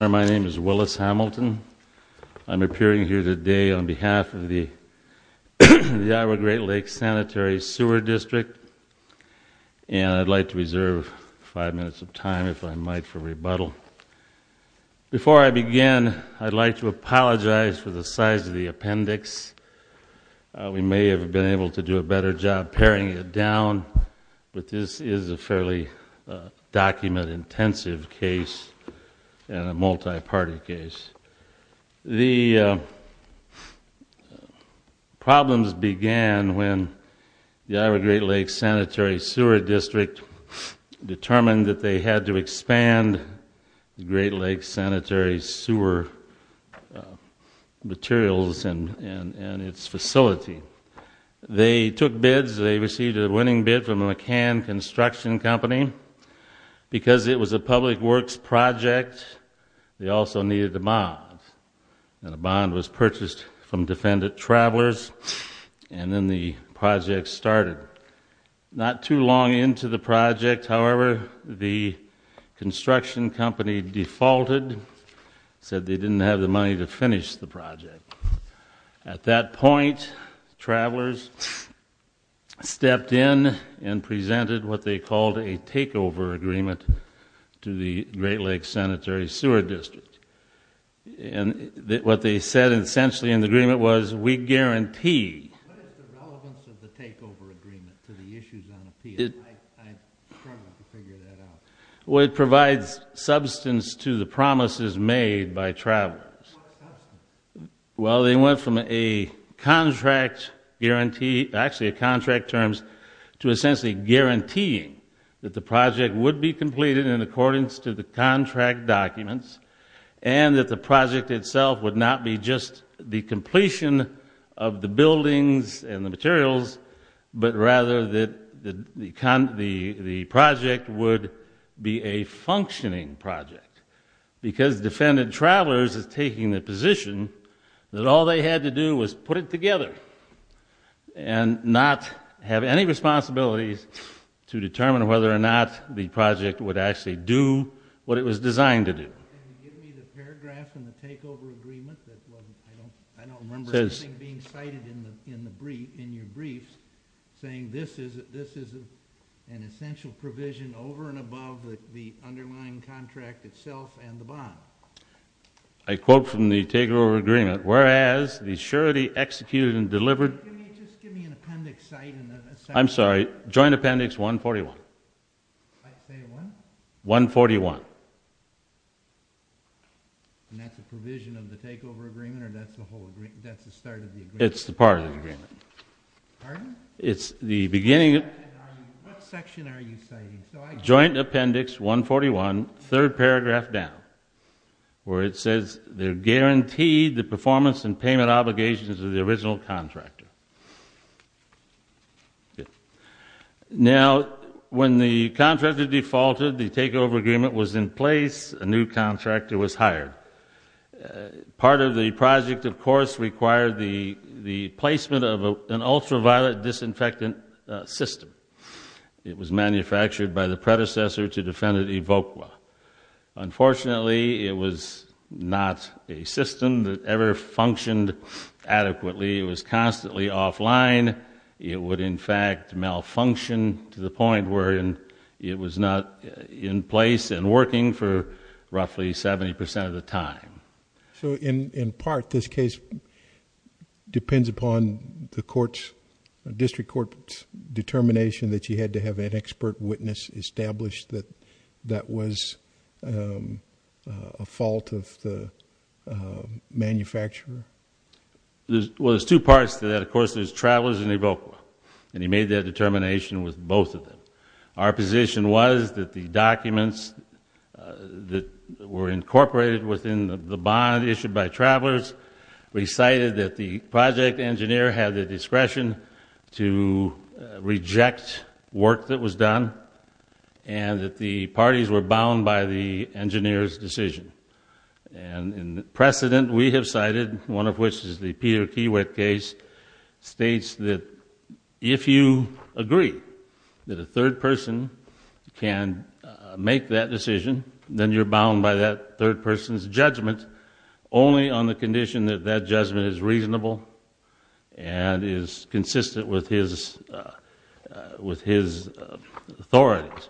My name is Willis Hamilton. I'm appearing here today on behalf of the Iowa Great Lakes Sanitary Sewer District and I'd like to reserve five minutes of time, if I might, for rebuttal. Before I begin, I'd like to apologize for the size of the appendix. We may have been able to do a better job paring it down, but this is a fairly document-intensive case and a multi-party case. The problems began when the Iowa Great Lakes Sanitary Sewer District determined that they had to expand the Great Lakes Sanitary Sewer materials and its facility. They took bids. They received a winning bid from the McCann Construction Company. Because it was a public works project, they also needed a bond. A bond was purchased from Defendant Travelers and then the project started. Not too long into the project, however, the construction company defaulted and said they didn't have the money to finish the project. At that point, Travelers stepped in and presented what they called a takeover agreement to the Great Lakes Sanitary Sewer District. What they said, essentially, in the agreement was, we guarantee... What is the relevance of the takeover agreement to the issues on appeal? I'm struggling to figure that out. Well, it provides substance to the promises made by Travelers. Well, they went from a contract guarantee, actually contract terms, to essentially guaranteeing that the project would be completed in accordance to the contract documents, and that the project itself would not be just the completion of the buildings and the materials, but rather that the project would be a functioning project. Because Defendant Travelers is taking the position that all they had to do was put it together and not have any responsibilities to determine whether or not the project would actually do what it was designed to do. Can you give me the paragraph in the takeover agreement? I don't remember anything being cited in your briefs saying this is an essential provision over and above the underlying contract itself and the bond. I quote from the takeover agreement, whereas the surety executed and delivered... Just give me an appendix cite. I'm sorry, joint appendix 141. Say what? 141. And that's a provision of the takeover agreement, or that's the start of the agreement? It's the part of the agreement. Pardon? It's the beginning of... What section are you citing? Joint appendix 141, third paragraph down, where it says they're guaranteed the performance and payment obligations of the original contractor. Good. Now, when the contractor defaulted, the takeover agreement was in place, a new contractor was hired. Part of the project, of course, required the placement of an ultraviolet disinfectant system. It was manufactured by the predecessor to Defendant Evokwa. Unfortunately, it was not a system that ever functioned adequately. It was constantly offline. It would, in fact, malfunction to the point where it was not in place and working for roughly 70% of the time. So, in part, this case depends upon the district court's determination that you had to have an expert witness establish that that was a fault of the manufacturer? Well, there's two parts to that. Of course, there's Travelers and Evokwa, and he made that determination with both of them. Our position was that the documents that were incorporated within the bond issued by Travelers recited that the project engineer had the discretion to reject work that was done, and that the parties were bound by the engineer's decision. And precedent we have cited, one of which is the Peter Kiewit case, states that if you agree that a third person can make that decision, then you're bound by that third person's judgment only on the condition that that judgment is reasonable and is consistent with his authority.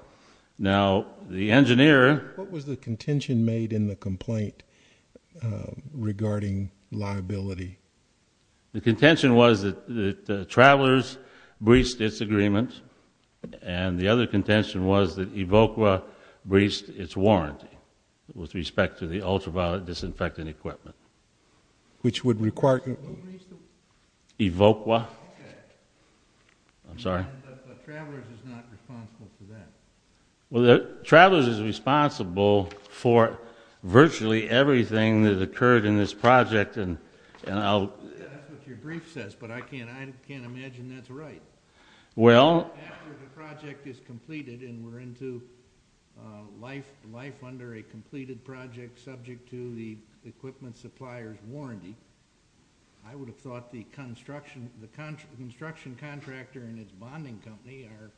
Now, the engineer... What was the contention made in the complaint regarding liability? The contention was that Travelers breached its agreement, and the other contention was that Evokwa breached its warranty with respect to the ultraviolet disinfectant equipment. Which would require... Evokwa. I'm sorry? Yeah, but Travelers is not responsible for that. Well, Travelers is responsible for virtually everything that occurred in this project, and I'll... That's what your brief says, but I can't imagine that's right. Well... After the project is completed and we're into life under a completed project subject to the equipment supplier's warranty, I would have thought the construction contractor and his bonding company are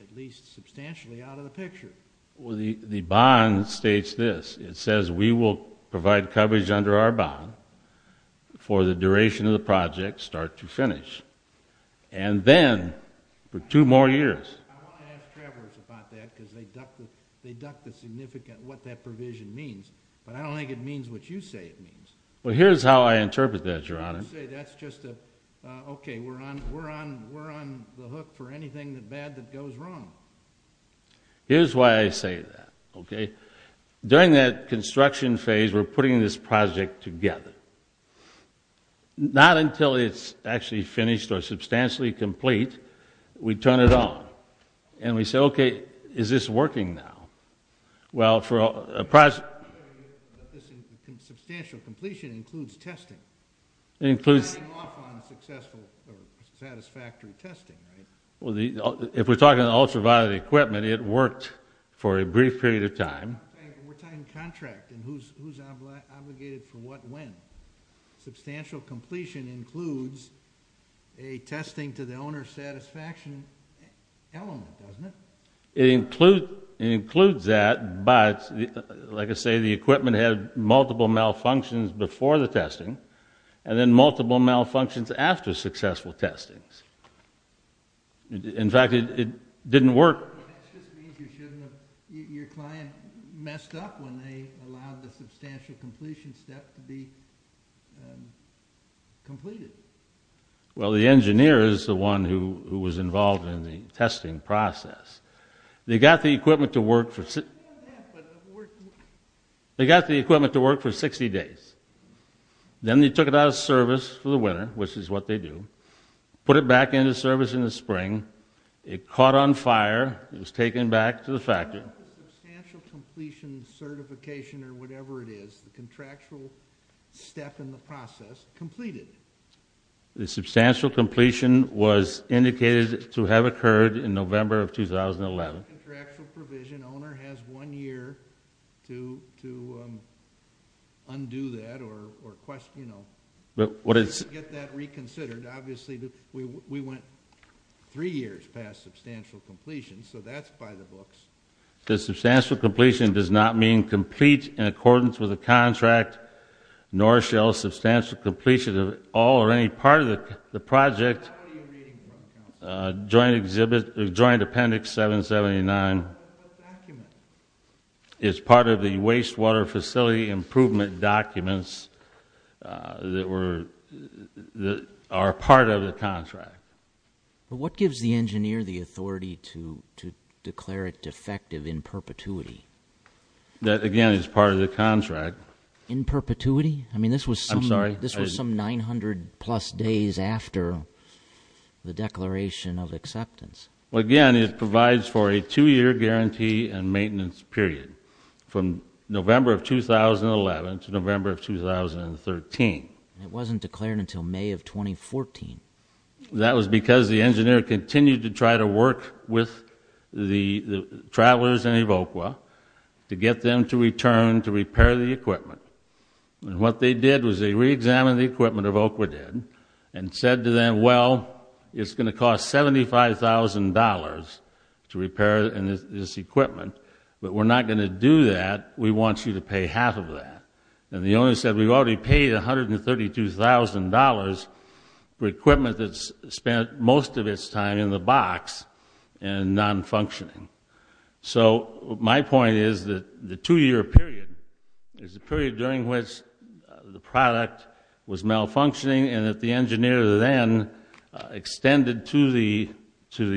at least substantially out of the picture. Well, the bond states this. It says we will provide coverage under our bond for the duration of the project, start to finish. And then, for two more years... I want to ask Travelers about that, because they duck the significant what that provision means. But I don't think it means what you say it means. Well, here's how I interpret that, Your Honor. You say that's just a... Okay, we're on the hook for anything bad that goes wrong. Here's why I say that, okay? During that construction phase, we're putting this project together. Not until it's actually finished or substantially complete, we turn it on. And we say, okay, is this working now? Well, for a project... Substantial completion includes testing. It includes... Starting off on successful or satisfactory testing, right? If we're talking ultraviolet equipment, it worked for a brief period of time. We're talking contract and who's obligated for what when. Substantial completion includes a testing to the owner's satisfaction element, doesn't it? It includes that, but, like I say, the equipment had multiple malfunctions before the testing and then multiple malfunctions after successful testing. In fact, it didn't work. It just means you shouldn't have... Your client messed up when they allowed the substantial completion step to be completed. Well, the engineer is the one who was involved in the testing process. They got the equipment to work for 60 days. Then they took it out of service for the winter, which is what they do, put it back into service in the spring. It caught on fire. It was taken back to the factory. Substantial completion certification or whatever it is, the contractual step in the process, completed. The substantial completion was indicated to have occurred in November of 2011. Contractual provision, owner has one year to undo that or get that reconsidered. We went three years past substantial completion, so that's by the books. The substantial completion does not mean complete in accordance with the contract, nor shall substantial completion of all or any part of the project. Joint appendix 779 is part of the wastewater facility improvement documents that are part of the contract. What gives the engineer the authority to declare it defective in perpetuity? That, again, is part of the contract. In perpetuity? I'm sorry? This was some 900-plus days after the declaration of acceptance. Again, it provides for a two-year guarantee and maintenance period from November of 2011 to November of 2013. It wasn't declared until May of 2014. That was because the engineer continued to try to work with the travelers in Ivokwa to get them to return to repair the equipment. What they did was they reexamined the equipment Ivokwa did and said to them, well, it's going to cost $75,000 to repair this equipment, but we're not going to do that. We want you to pay half of that. And the owner said, we've already paid $132,000 for equipment that's spent most of its time in the box and nonfunctioning. So my point is that the two-year period is the period during which the product was malfunctioning and that the engineer then extended to the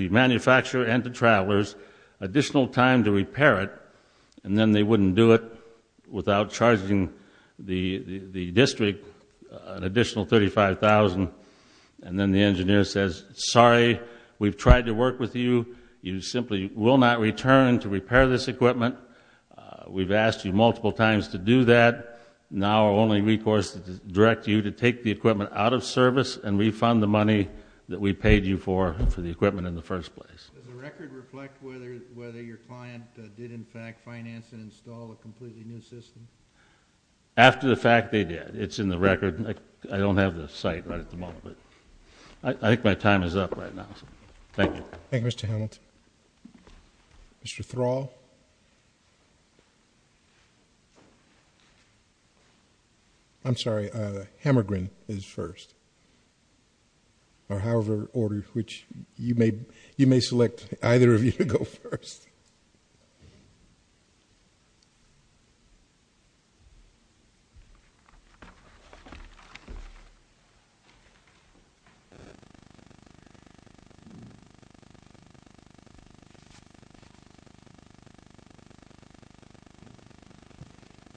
manufacturer and the travelers additional time to repair it, and then they wouldn't do it without charging the district an additional $35,000. And then the engineer says, sorry, we've tried to work with you. You simply will not return to repair this equipment. We've asked you multiple times to do that. Now our only recourse is to direct you to take the equipment out of service and refund the money that we paid you for for the equipment in the first place. Does the record reflect whether your client did, in fact, finance and install a completely new system? After the fact, they did. It's in the record. I don't have the site right at the moment, but I think my time is up right now. Thank you. Thank you, Mr. Hamilton. Mr. Thrall? Mr. Thrall? I'm sorry, Hammergren is first. Or however ordered, which you may select either of you to go first.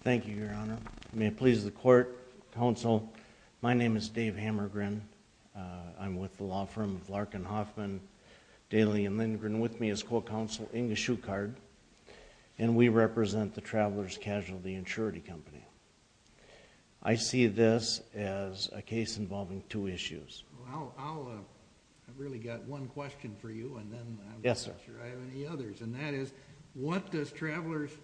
Thank you, Your Honor. May it please the court, counsel, my name is Dave Hammergren. I'm with the law firm of Larkin, Hoffman, Daly & Lindgren. With me is co-counsel Inge Schuchard, and we represent the Traveler's Casualty Insurance Company. I see this as a case involving two issues. I've really got one question for you, and then I'm not sure I have any others. And that is, what is Traveler's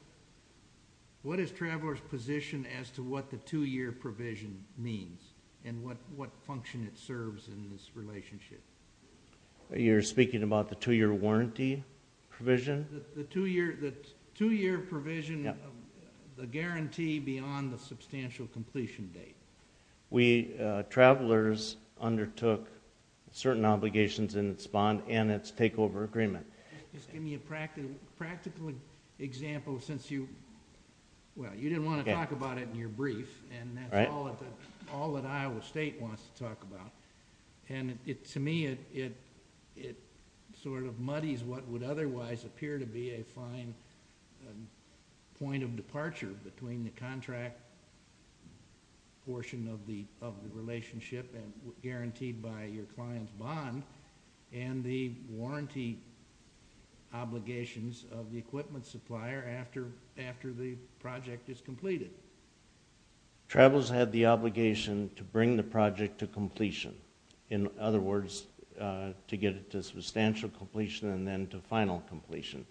position as to what the two-year provision means and what function it serves in this relationship? You're speaking about the two-year warranty provision? The two-year provision, the guarantee beyond the substantial completion date. Travelers undertook certain obligations in its bond and its takeover agreement. Just give me a practical example, since you didn't want to talk about it in your brief, and that's all that Iowa State wants to talk about. To me, it sort of muddies what would otherwise appear to be a fine point of departure between the contract portion of the relationship guaranteed by your client's bond and the warranty obligations of the equipment supplier after the project is completed. Travelers had the obligation to bring the project to completion. In other words, to get it to substantial completion and then to final completion.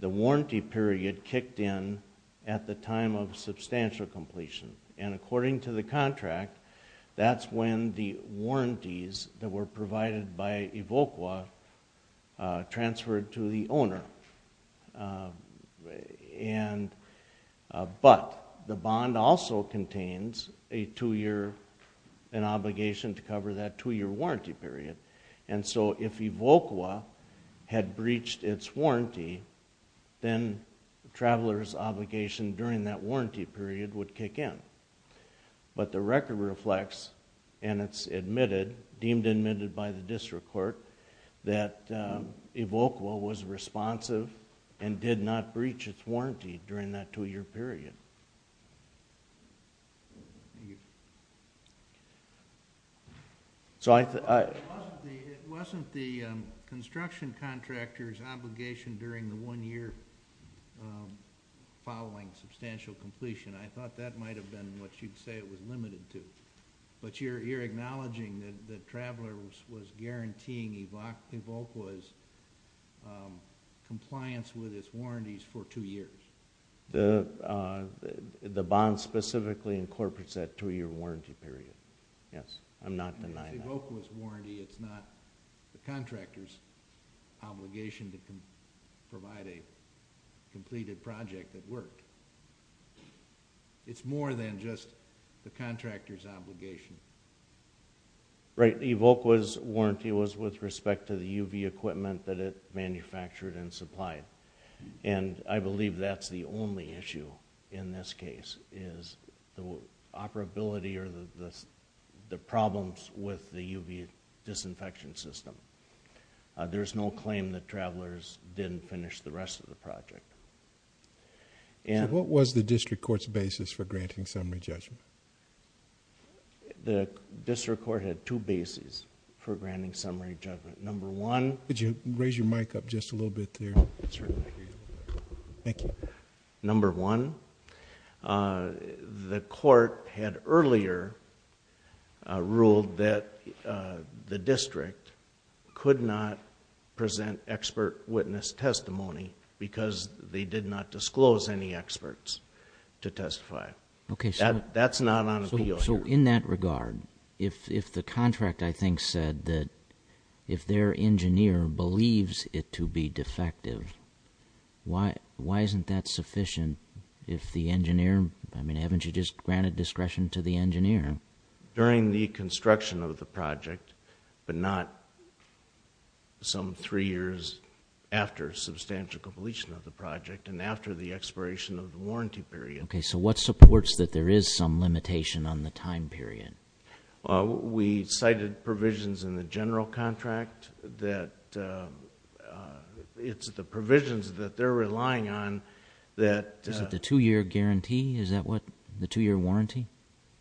The warranty period kicked in at the time of substantial completion, and according to the contract, that's when the warranties that were provided by Evolqua transferred to the owner. But the bond also contains an obligation to cover that two-year warranty period, and so if Evolqua had breached its warranty, then travelers' obligation during that warranty period would kick in. But the record reflects, and it's deemed admitted by the district court, that Evolqua was responsive and did not breach its warranty during that two-year period. It wasn't the construction contractor's obligation during the one-year following substantial completion. I thought that might have been what you'd say it was limited to. But you're acknowledging that travelers was guaranteeing Evolqua's compliance with its warranties for two years. The bond specifically incorporates that two-year warranty period. Yes, I'm not denying that. Evolqua's warranty is not the contractor's obligation to provide a completed project that worked. It's more than just the contractor's obligation. Right, Evolqua's warranty was with respect to the UV equipment that it manufactured and supplied, and I believe that's the only issue in this case, is the operability or the problems with the UV disinfection system. There's no claim that travelers didn't finish the rest of the project. So what was the district court's basis for granting summary judgment? The district court had two bases for granting summary judgment. Could you raise your mic up just a little bit there? Thank you. Number one, the court had earlier ruled that the district could not present expert witness testimony because they did not disclose any experts to testify. That's not on appeal here. So in that regard, if the contract, I think, said that if their engineer believes it to be defective, why isn't that sufficient if the engineer, I mean, haven't you just granted discretion to the engineer? During the construction of the project, but not some three years after substantial completion of the project and after the expiration of the warranty period. Okay. So what supports that there is some limitation on the time period? We cited provisions in the general contract that it's the provisions that they're relying on that. Is it the two-year guarantee? Is that what, the two-year warranty?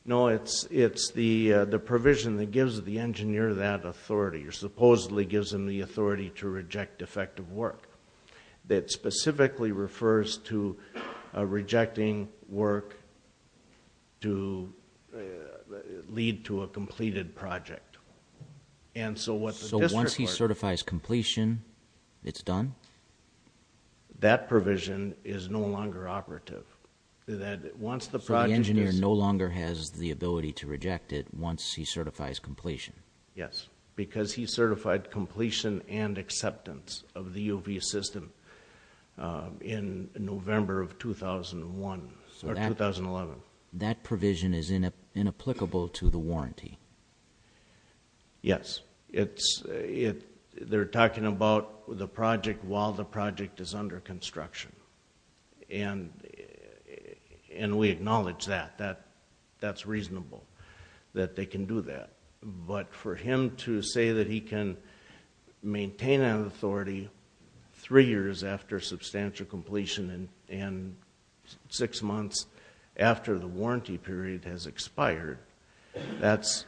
No, it's the provision that gives the engineer that authority or supposedly gives them the authority to reject defective work. That specifically refers to rejecting work to lead to a completed project. So once he certifies completion, it's done? That provision is no longer operative. So the engineer no longer has the ability to reject it once he certifies completion? Yes, because he certified completion and acceptance of the U of E system in November of 2001 or 2011. So that provision is inapplicable to the warranty? Yes. They're talking about the project while the project is under construction, and we acknowledge that. That's reasonable that they can do that. But for him to say that he can maintain that authority three years after substantial completion and six months after the warranty period has expired, that's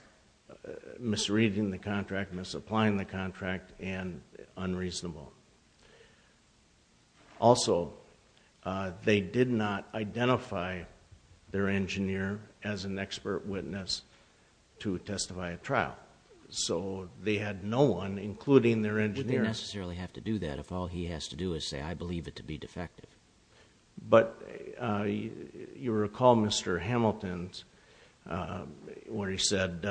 misreading the contract, misapplying the contract, and unreasonable. Also, they did not identify their engineer as an expert witness to testify at trial. So they had no one, including their engineer. We didn't necessarily have to do that if all he has to do is say, I believe it to be defective. But you recall Mr. Hamilton's, where he said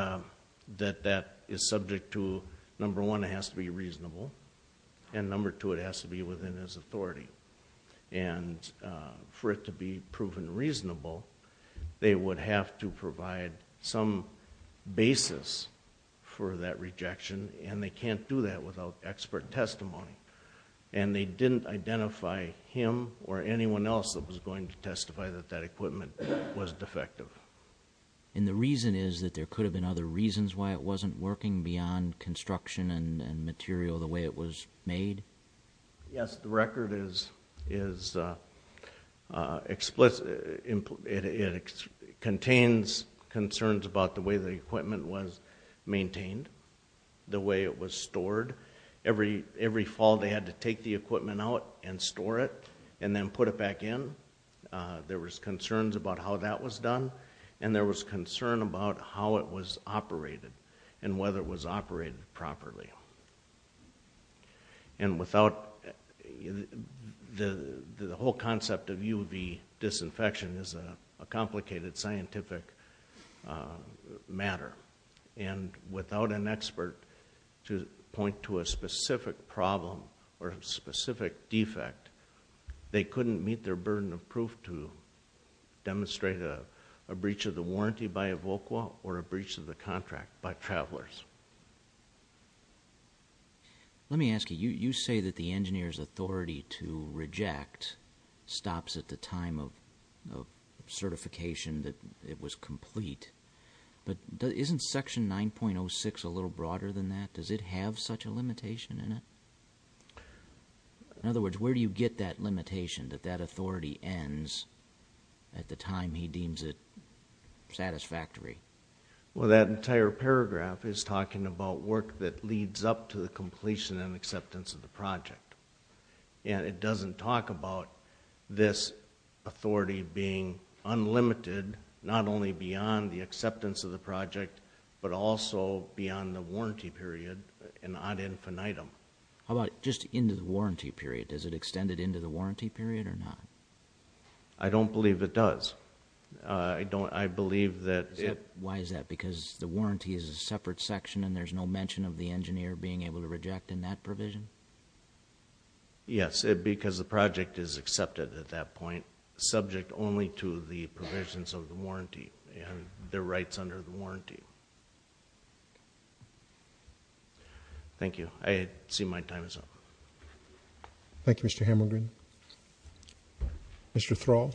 that that is subject to, number one, it has to be reasonable. And number two, it has to be within his authority. And for it to be proven reasonable, they would have to provide some basis for that rejection, and they can't do that without expert testimony. And they didn't identify him or anyone else that was going to testify that that equipment was defective. And the reason is that there could have been other reasons why it wasn't working beyond construction and material the way it was made. Yes, the record is explicit. It contains concerns about the way the equipment was maintained, the way it was stored. Every fall they had to take the equipment out and store it and then put it back in. There was concerns about how that was done, and there was concern about how it was operated and whether it was operated properly. And the whole concept of UV disinfection is a complicated scientific matter. And without an expert to point to a specific problem or a specific defect, they couldn't meet their burden of proof to demonstrate a breach of the warranty by Evoqua or a breach of the contract by travelers. Let me ask you. You say that the engineer's authority to reject stops at the time of certification that it was complete. But isn't Section 9.06 a little broader than that? Does it have such a limitation in it? In other words, where do you get that limitation, that that authority ends at the time he deems it satisfactory? Well, that entire paragraph is talking about work that leads up to the completion and acceptance of the project. And it doesn't talk about this authority being unlimited, not only beyond the acceptance of the project, but also beyond the warranty period and ad infinitum. How about just into the warranty period? Does it extend it into the warranty period or not? I don't believe it does. I believe that it... Why is that? Because the warranty is a separate section and there's no mention of the engineer being able to reject in that provision? Yes, because the project is accepted at that point, subject only to the provisions of the warranty and their rights under the warranty. Thank you. I see my time is up. Thank you, Mr. Hamilgren. Mr. Thrall.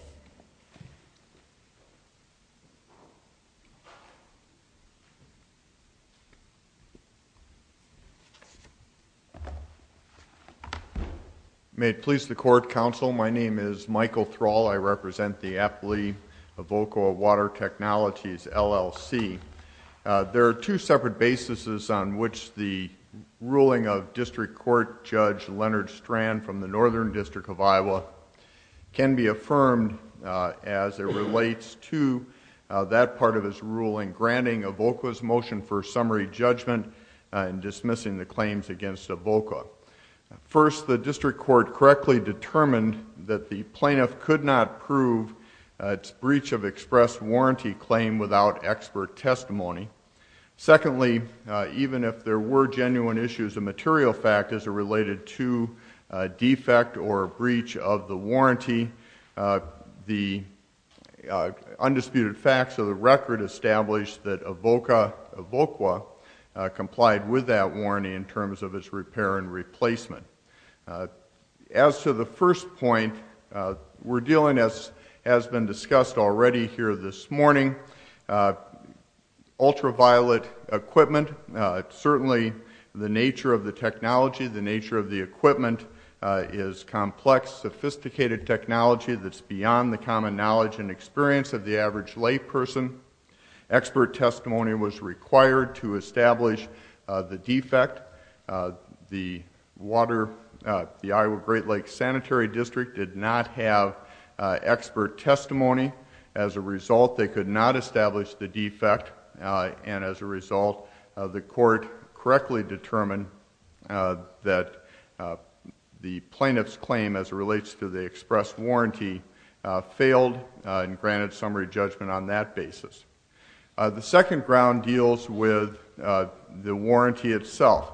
May it please the Court, Counsel, my name is Michael Thrall. I represent the appellee of Volcoa Water Technologies, LLC. There are two separate bases on which the ruling of District Court Judge Leonard Strand from the Northern District of Iowa can be affirmed as it relates to that part of his ruling, granting Volcoa's motion for summary judgment and dismissing the claims against Volcoa. First, the District Court correctly determined that the plaintiff could not prove its breach of express warranty claim without expert testimony. Secondly, even if there were genuine issues, a material fact as it related to a defect or a breach of the warranty, the undisputed facts of the record establish that Volcoa complied with that warranty in terms of its repair and replacement. As to the first point, we're dealing, as has been discussed already here this morning, ultraviolet equipment. Certainly the nature of the technology, the nature of the equipment, is complex, sophisticated technology that's beyond the common knowledge and experience of the average layperson. Expert testimony was required to establish the defect. The Iowa Great Lakes Sanitary District did not have expert testimony. As a result, they could not establish the defect, and as a result, the court correctly determined that the plaintiff's claim as it relates to the express warranty failed and granted summary judgment on that basis. The second ground deals with the warranty itself.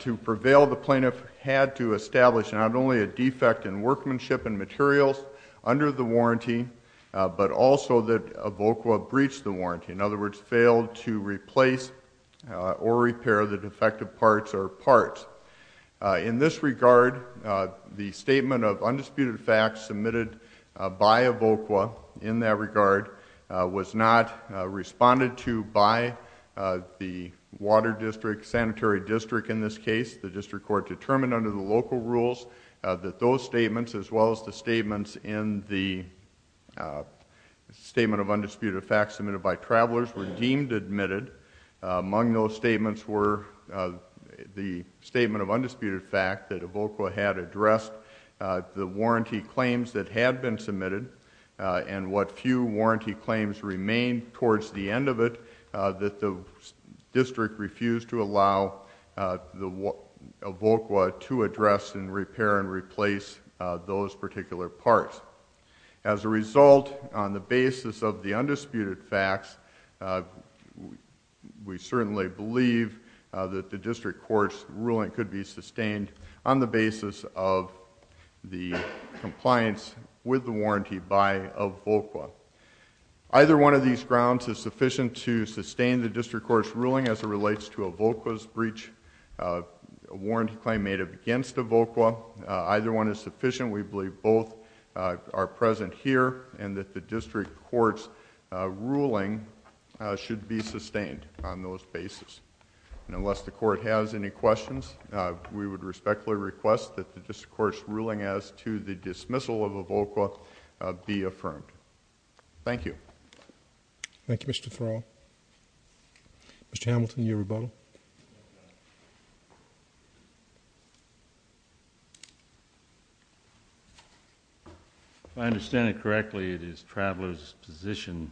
To prevail, the plaintiff had to establish not only a defect in workmanship and materials under the warranty, but also that Volcoa breached the warranty, in other words, failed to replace or repair the defective parts or parts. In this regard, the statement of undisputed facts submitted by Volcoa in that regard was not responded to by the water district, sanitary district in this case. The district court determined under the local rules that those statements, as well as the statements in the statement of undisputed facts submitted by travelers, were deemed admitted. Among those statements were the statement of undisputed fact that Volcoa had addressed the warranty claims that had been submitted and what few warranty claims remained towards the end of it that the district refused to allow Volcoa to address and repair and replace those particular parts. As a result, on the basis of the undisputed facts, we certainly believe that the district court's ruling could be sustained on the basis of the compliance with the warranty by Volcoa. Either one of these grounds is sufficient to sustain the district court's ruling as it relates to Volcoa's breach of a warranty claim made against Volcoa. Either one is sufficient. We believe both are present here and that the district court's ruling should be sustained on those basis. Unless the court has any questions, we would respectfully request that the district court's ruling as to the dismissal of Volcoa be affirmed. Thank you. Thank you, Mr. Thrall. Mr. Hamilton, your rebuttal. If I understand it correctly, it is Traveler's position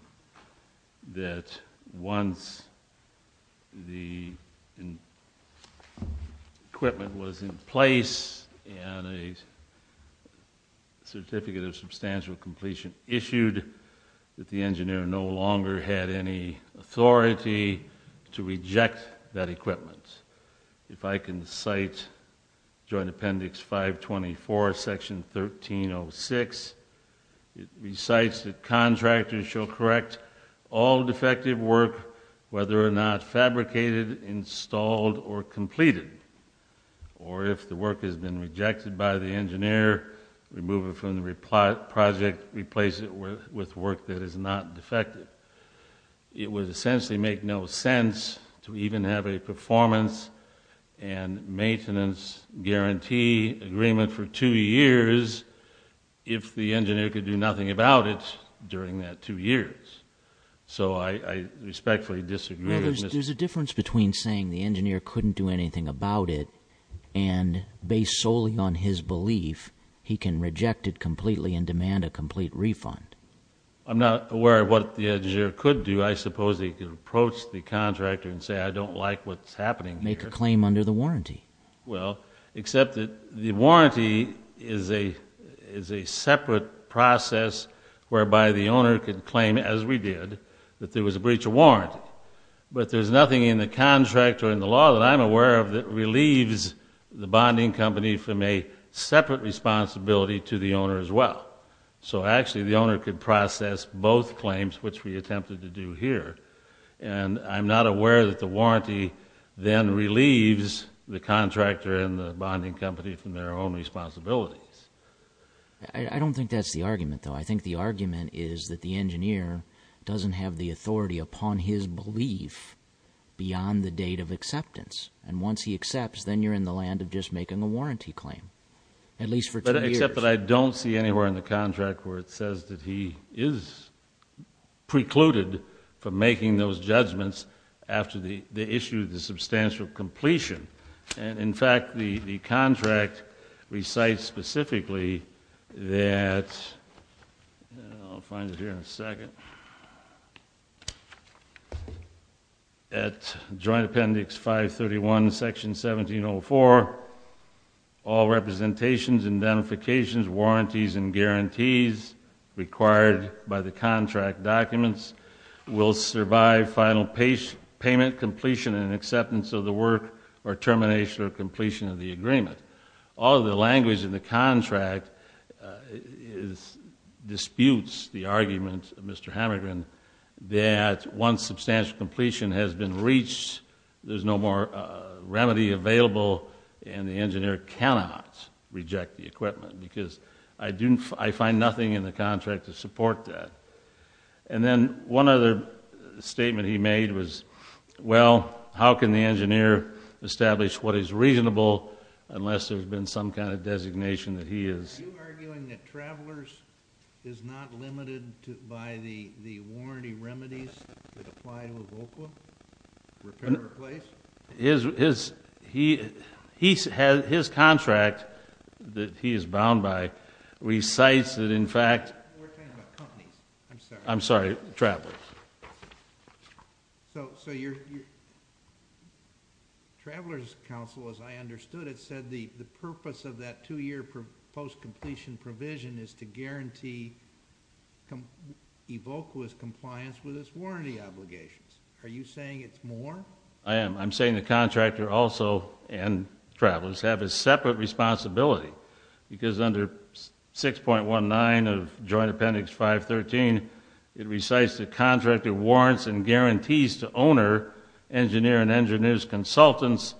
that once the equipment was in place and a certificate of substantial completion issued, that the engineer no longer had any authority to reject that equipment. If I can cite Joint Appendix 524, Section 1306, it recites that contractors shall correct all defective work, whether or not fabricated, installed, or completed, or if the work has been rejected by the engineer, remove it from the project, replace it with work that is not defective. It would essentially make no sense to even have a performance and maintenance guarantee agreement for two years if the engineer could do nothing about it during that two years. So I respectfully disagree with Mr. Hamilton. There's a difference between saying the engineer couldn't do anything about it and based solely on his belief he can reject it completely and demand a complete refund. I'm not aware of what the engineer could do. I suppose he could approach the contractor and say, I don't like what's happening here. Make a claim under the warranty. Well, except that the warranty is a separate process whereby the owner could claim, as we did, that there was a breach of warranty. But there's nothing in the contract or in the law that I'm aware of that relieves the bonding company from a separate responsibility to the owner as well. So actually the owner could process both claims, which we attempted to do here. And I'm not aware that the warranty then relieves the contractor and the bonding company from their own responsibilities. I don't think that's the argument, though. I think the argument is that the engineer doesn't have the authority upon his belief beyond the date of acceptance. And once he accepts, then you're in the land of just making a warranty claim, at least for two years. Except that I don't see anywhere in the contract where it says that he is precluded from making those judgments after the issue of the substantial completion. And in fact, the contract recites specifically that I'll find it here in a second. At Joint Appendix 531, Section 1704, all representations, identifications, warranties, and guarantees required by the contract documents will survive final payment, completion, and acceptance of the work, or termination or completion of the agreement. All of the language in the contract disputes the argument of Mr. Hamergren that once substantial completion has been reached, there's no more remedy available and the engineer cannot reject the equipment because I find nothing in the contract to support that. And then one other statement he made was, well, how can the engineer establish what is reasonable unless there's been some kind of designation that he is... Are you arguing that Travelers is not limited by the warranty remedies that apply to Evolqua, repair or replace? His contract that he is bound by recites that in fact... We're talking about companies, I'm sorry. I'm sorry, Travelers. So your Travelers Council, as I understood it, said the purpose of that two-year post-completion provision is to guarantee Evolqua's compliance with its warranty obligations. Are you saying it's more? I am. I'm saying the contractor also, and Travelers, have a separate responsibility because under 6.19 of Joint Appendix 513, it recites the contractor warrants and guarantees to owner, engineer, and engineer's consultants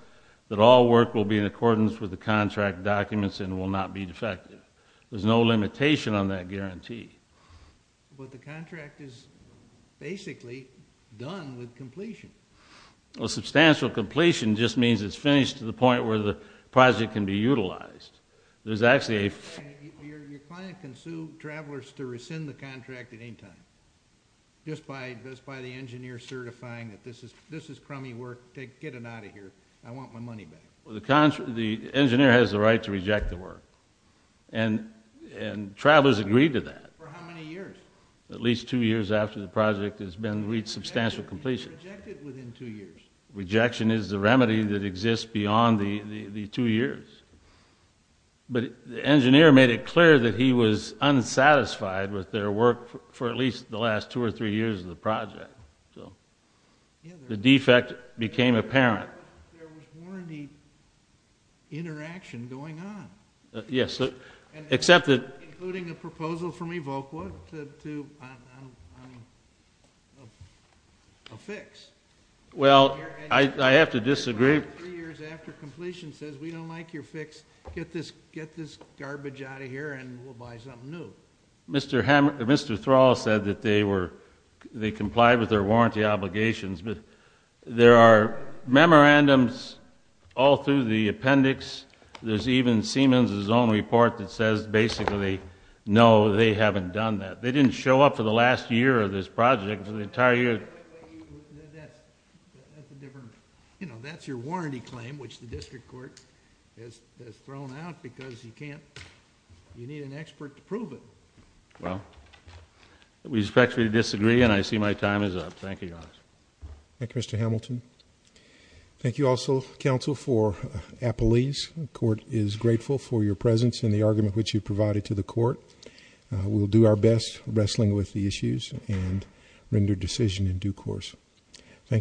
that all work will be in accordance with the contract documents and will not be defective. There's no limitation on that guarantee. But the contract is basically done with completion. Substantial completion just means it's finished to the point where the project can be utilized. Your client can sue Travelers to rescind the contract at any time just by the engineer certifying that this is crummy work, get it out of here. I want my money back. The engineer has the right to reject the work, and Travelers agreed to that. For how many years? At least two years after the project has reached substantial completion. Rejected within two years? Rejection is the remedy that exists beyond the two years. But the engineer made it clear that he was unsatisfied with their work for at least the last two or three years of the project. The defect became apparent. There was warranty interaction going on. Yes, except that Including a proposal from Evoqua to a fix. Well, I have to disagree. Three years after completion says we don't like your fix, get this garbage out of here and we'll buy something new. Mr. Thrall said that they complied with their warranty obligations. There are memorandums all through the appendix. There's even Siemens' own report that says basically, no, they haven't done that. They didn't show up for the last year of this project, for the entire year. That's a different, you know, that's your warranty claim, which the district court has thrown out because you can't, you need an expert to prove it. Well, we respectfully disagree, and I see my time is up. Thank you, Your Honor. Thank you, Mr. Hamilton. Thank you also, counsel, for Apollese. The court is grateful for your presence and the argument which you provided to the court. We'll do our best wrestling with the issues and render decision in due course. Thank you.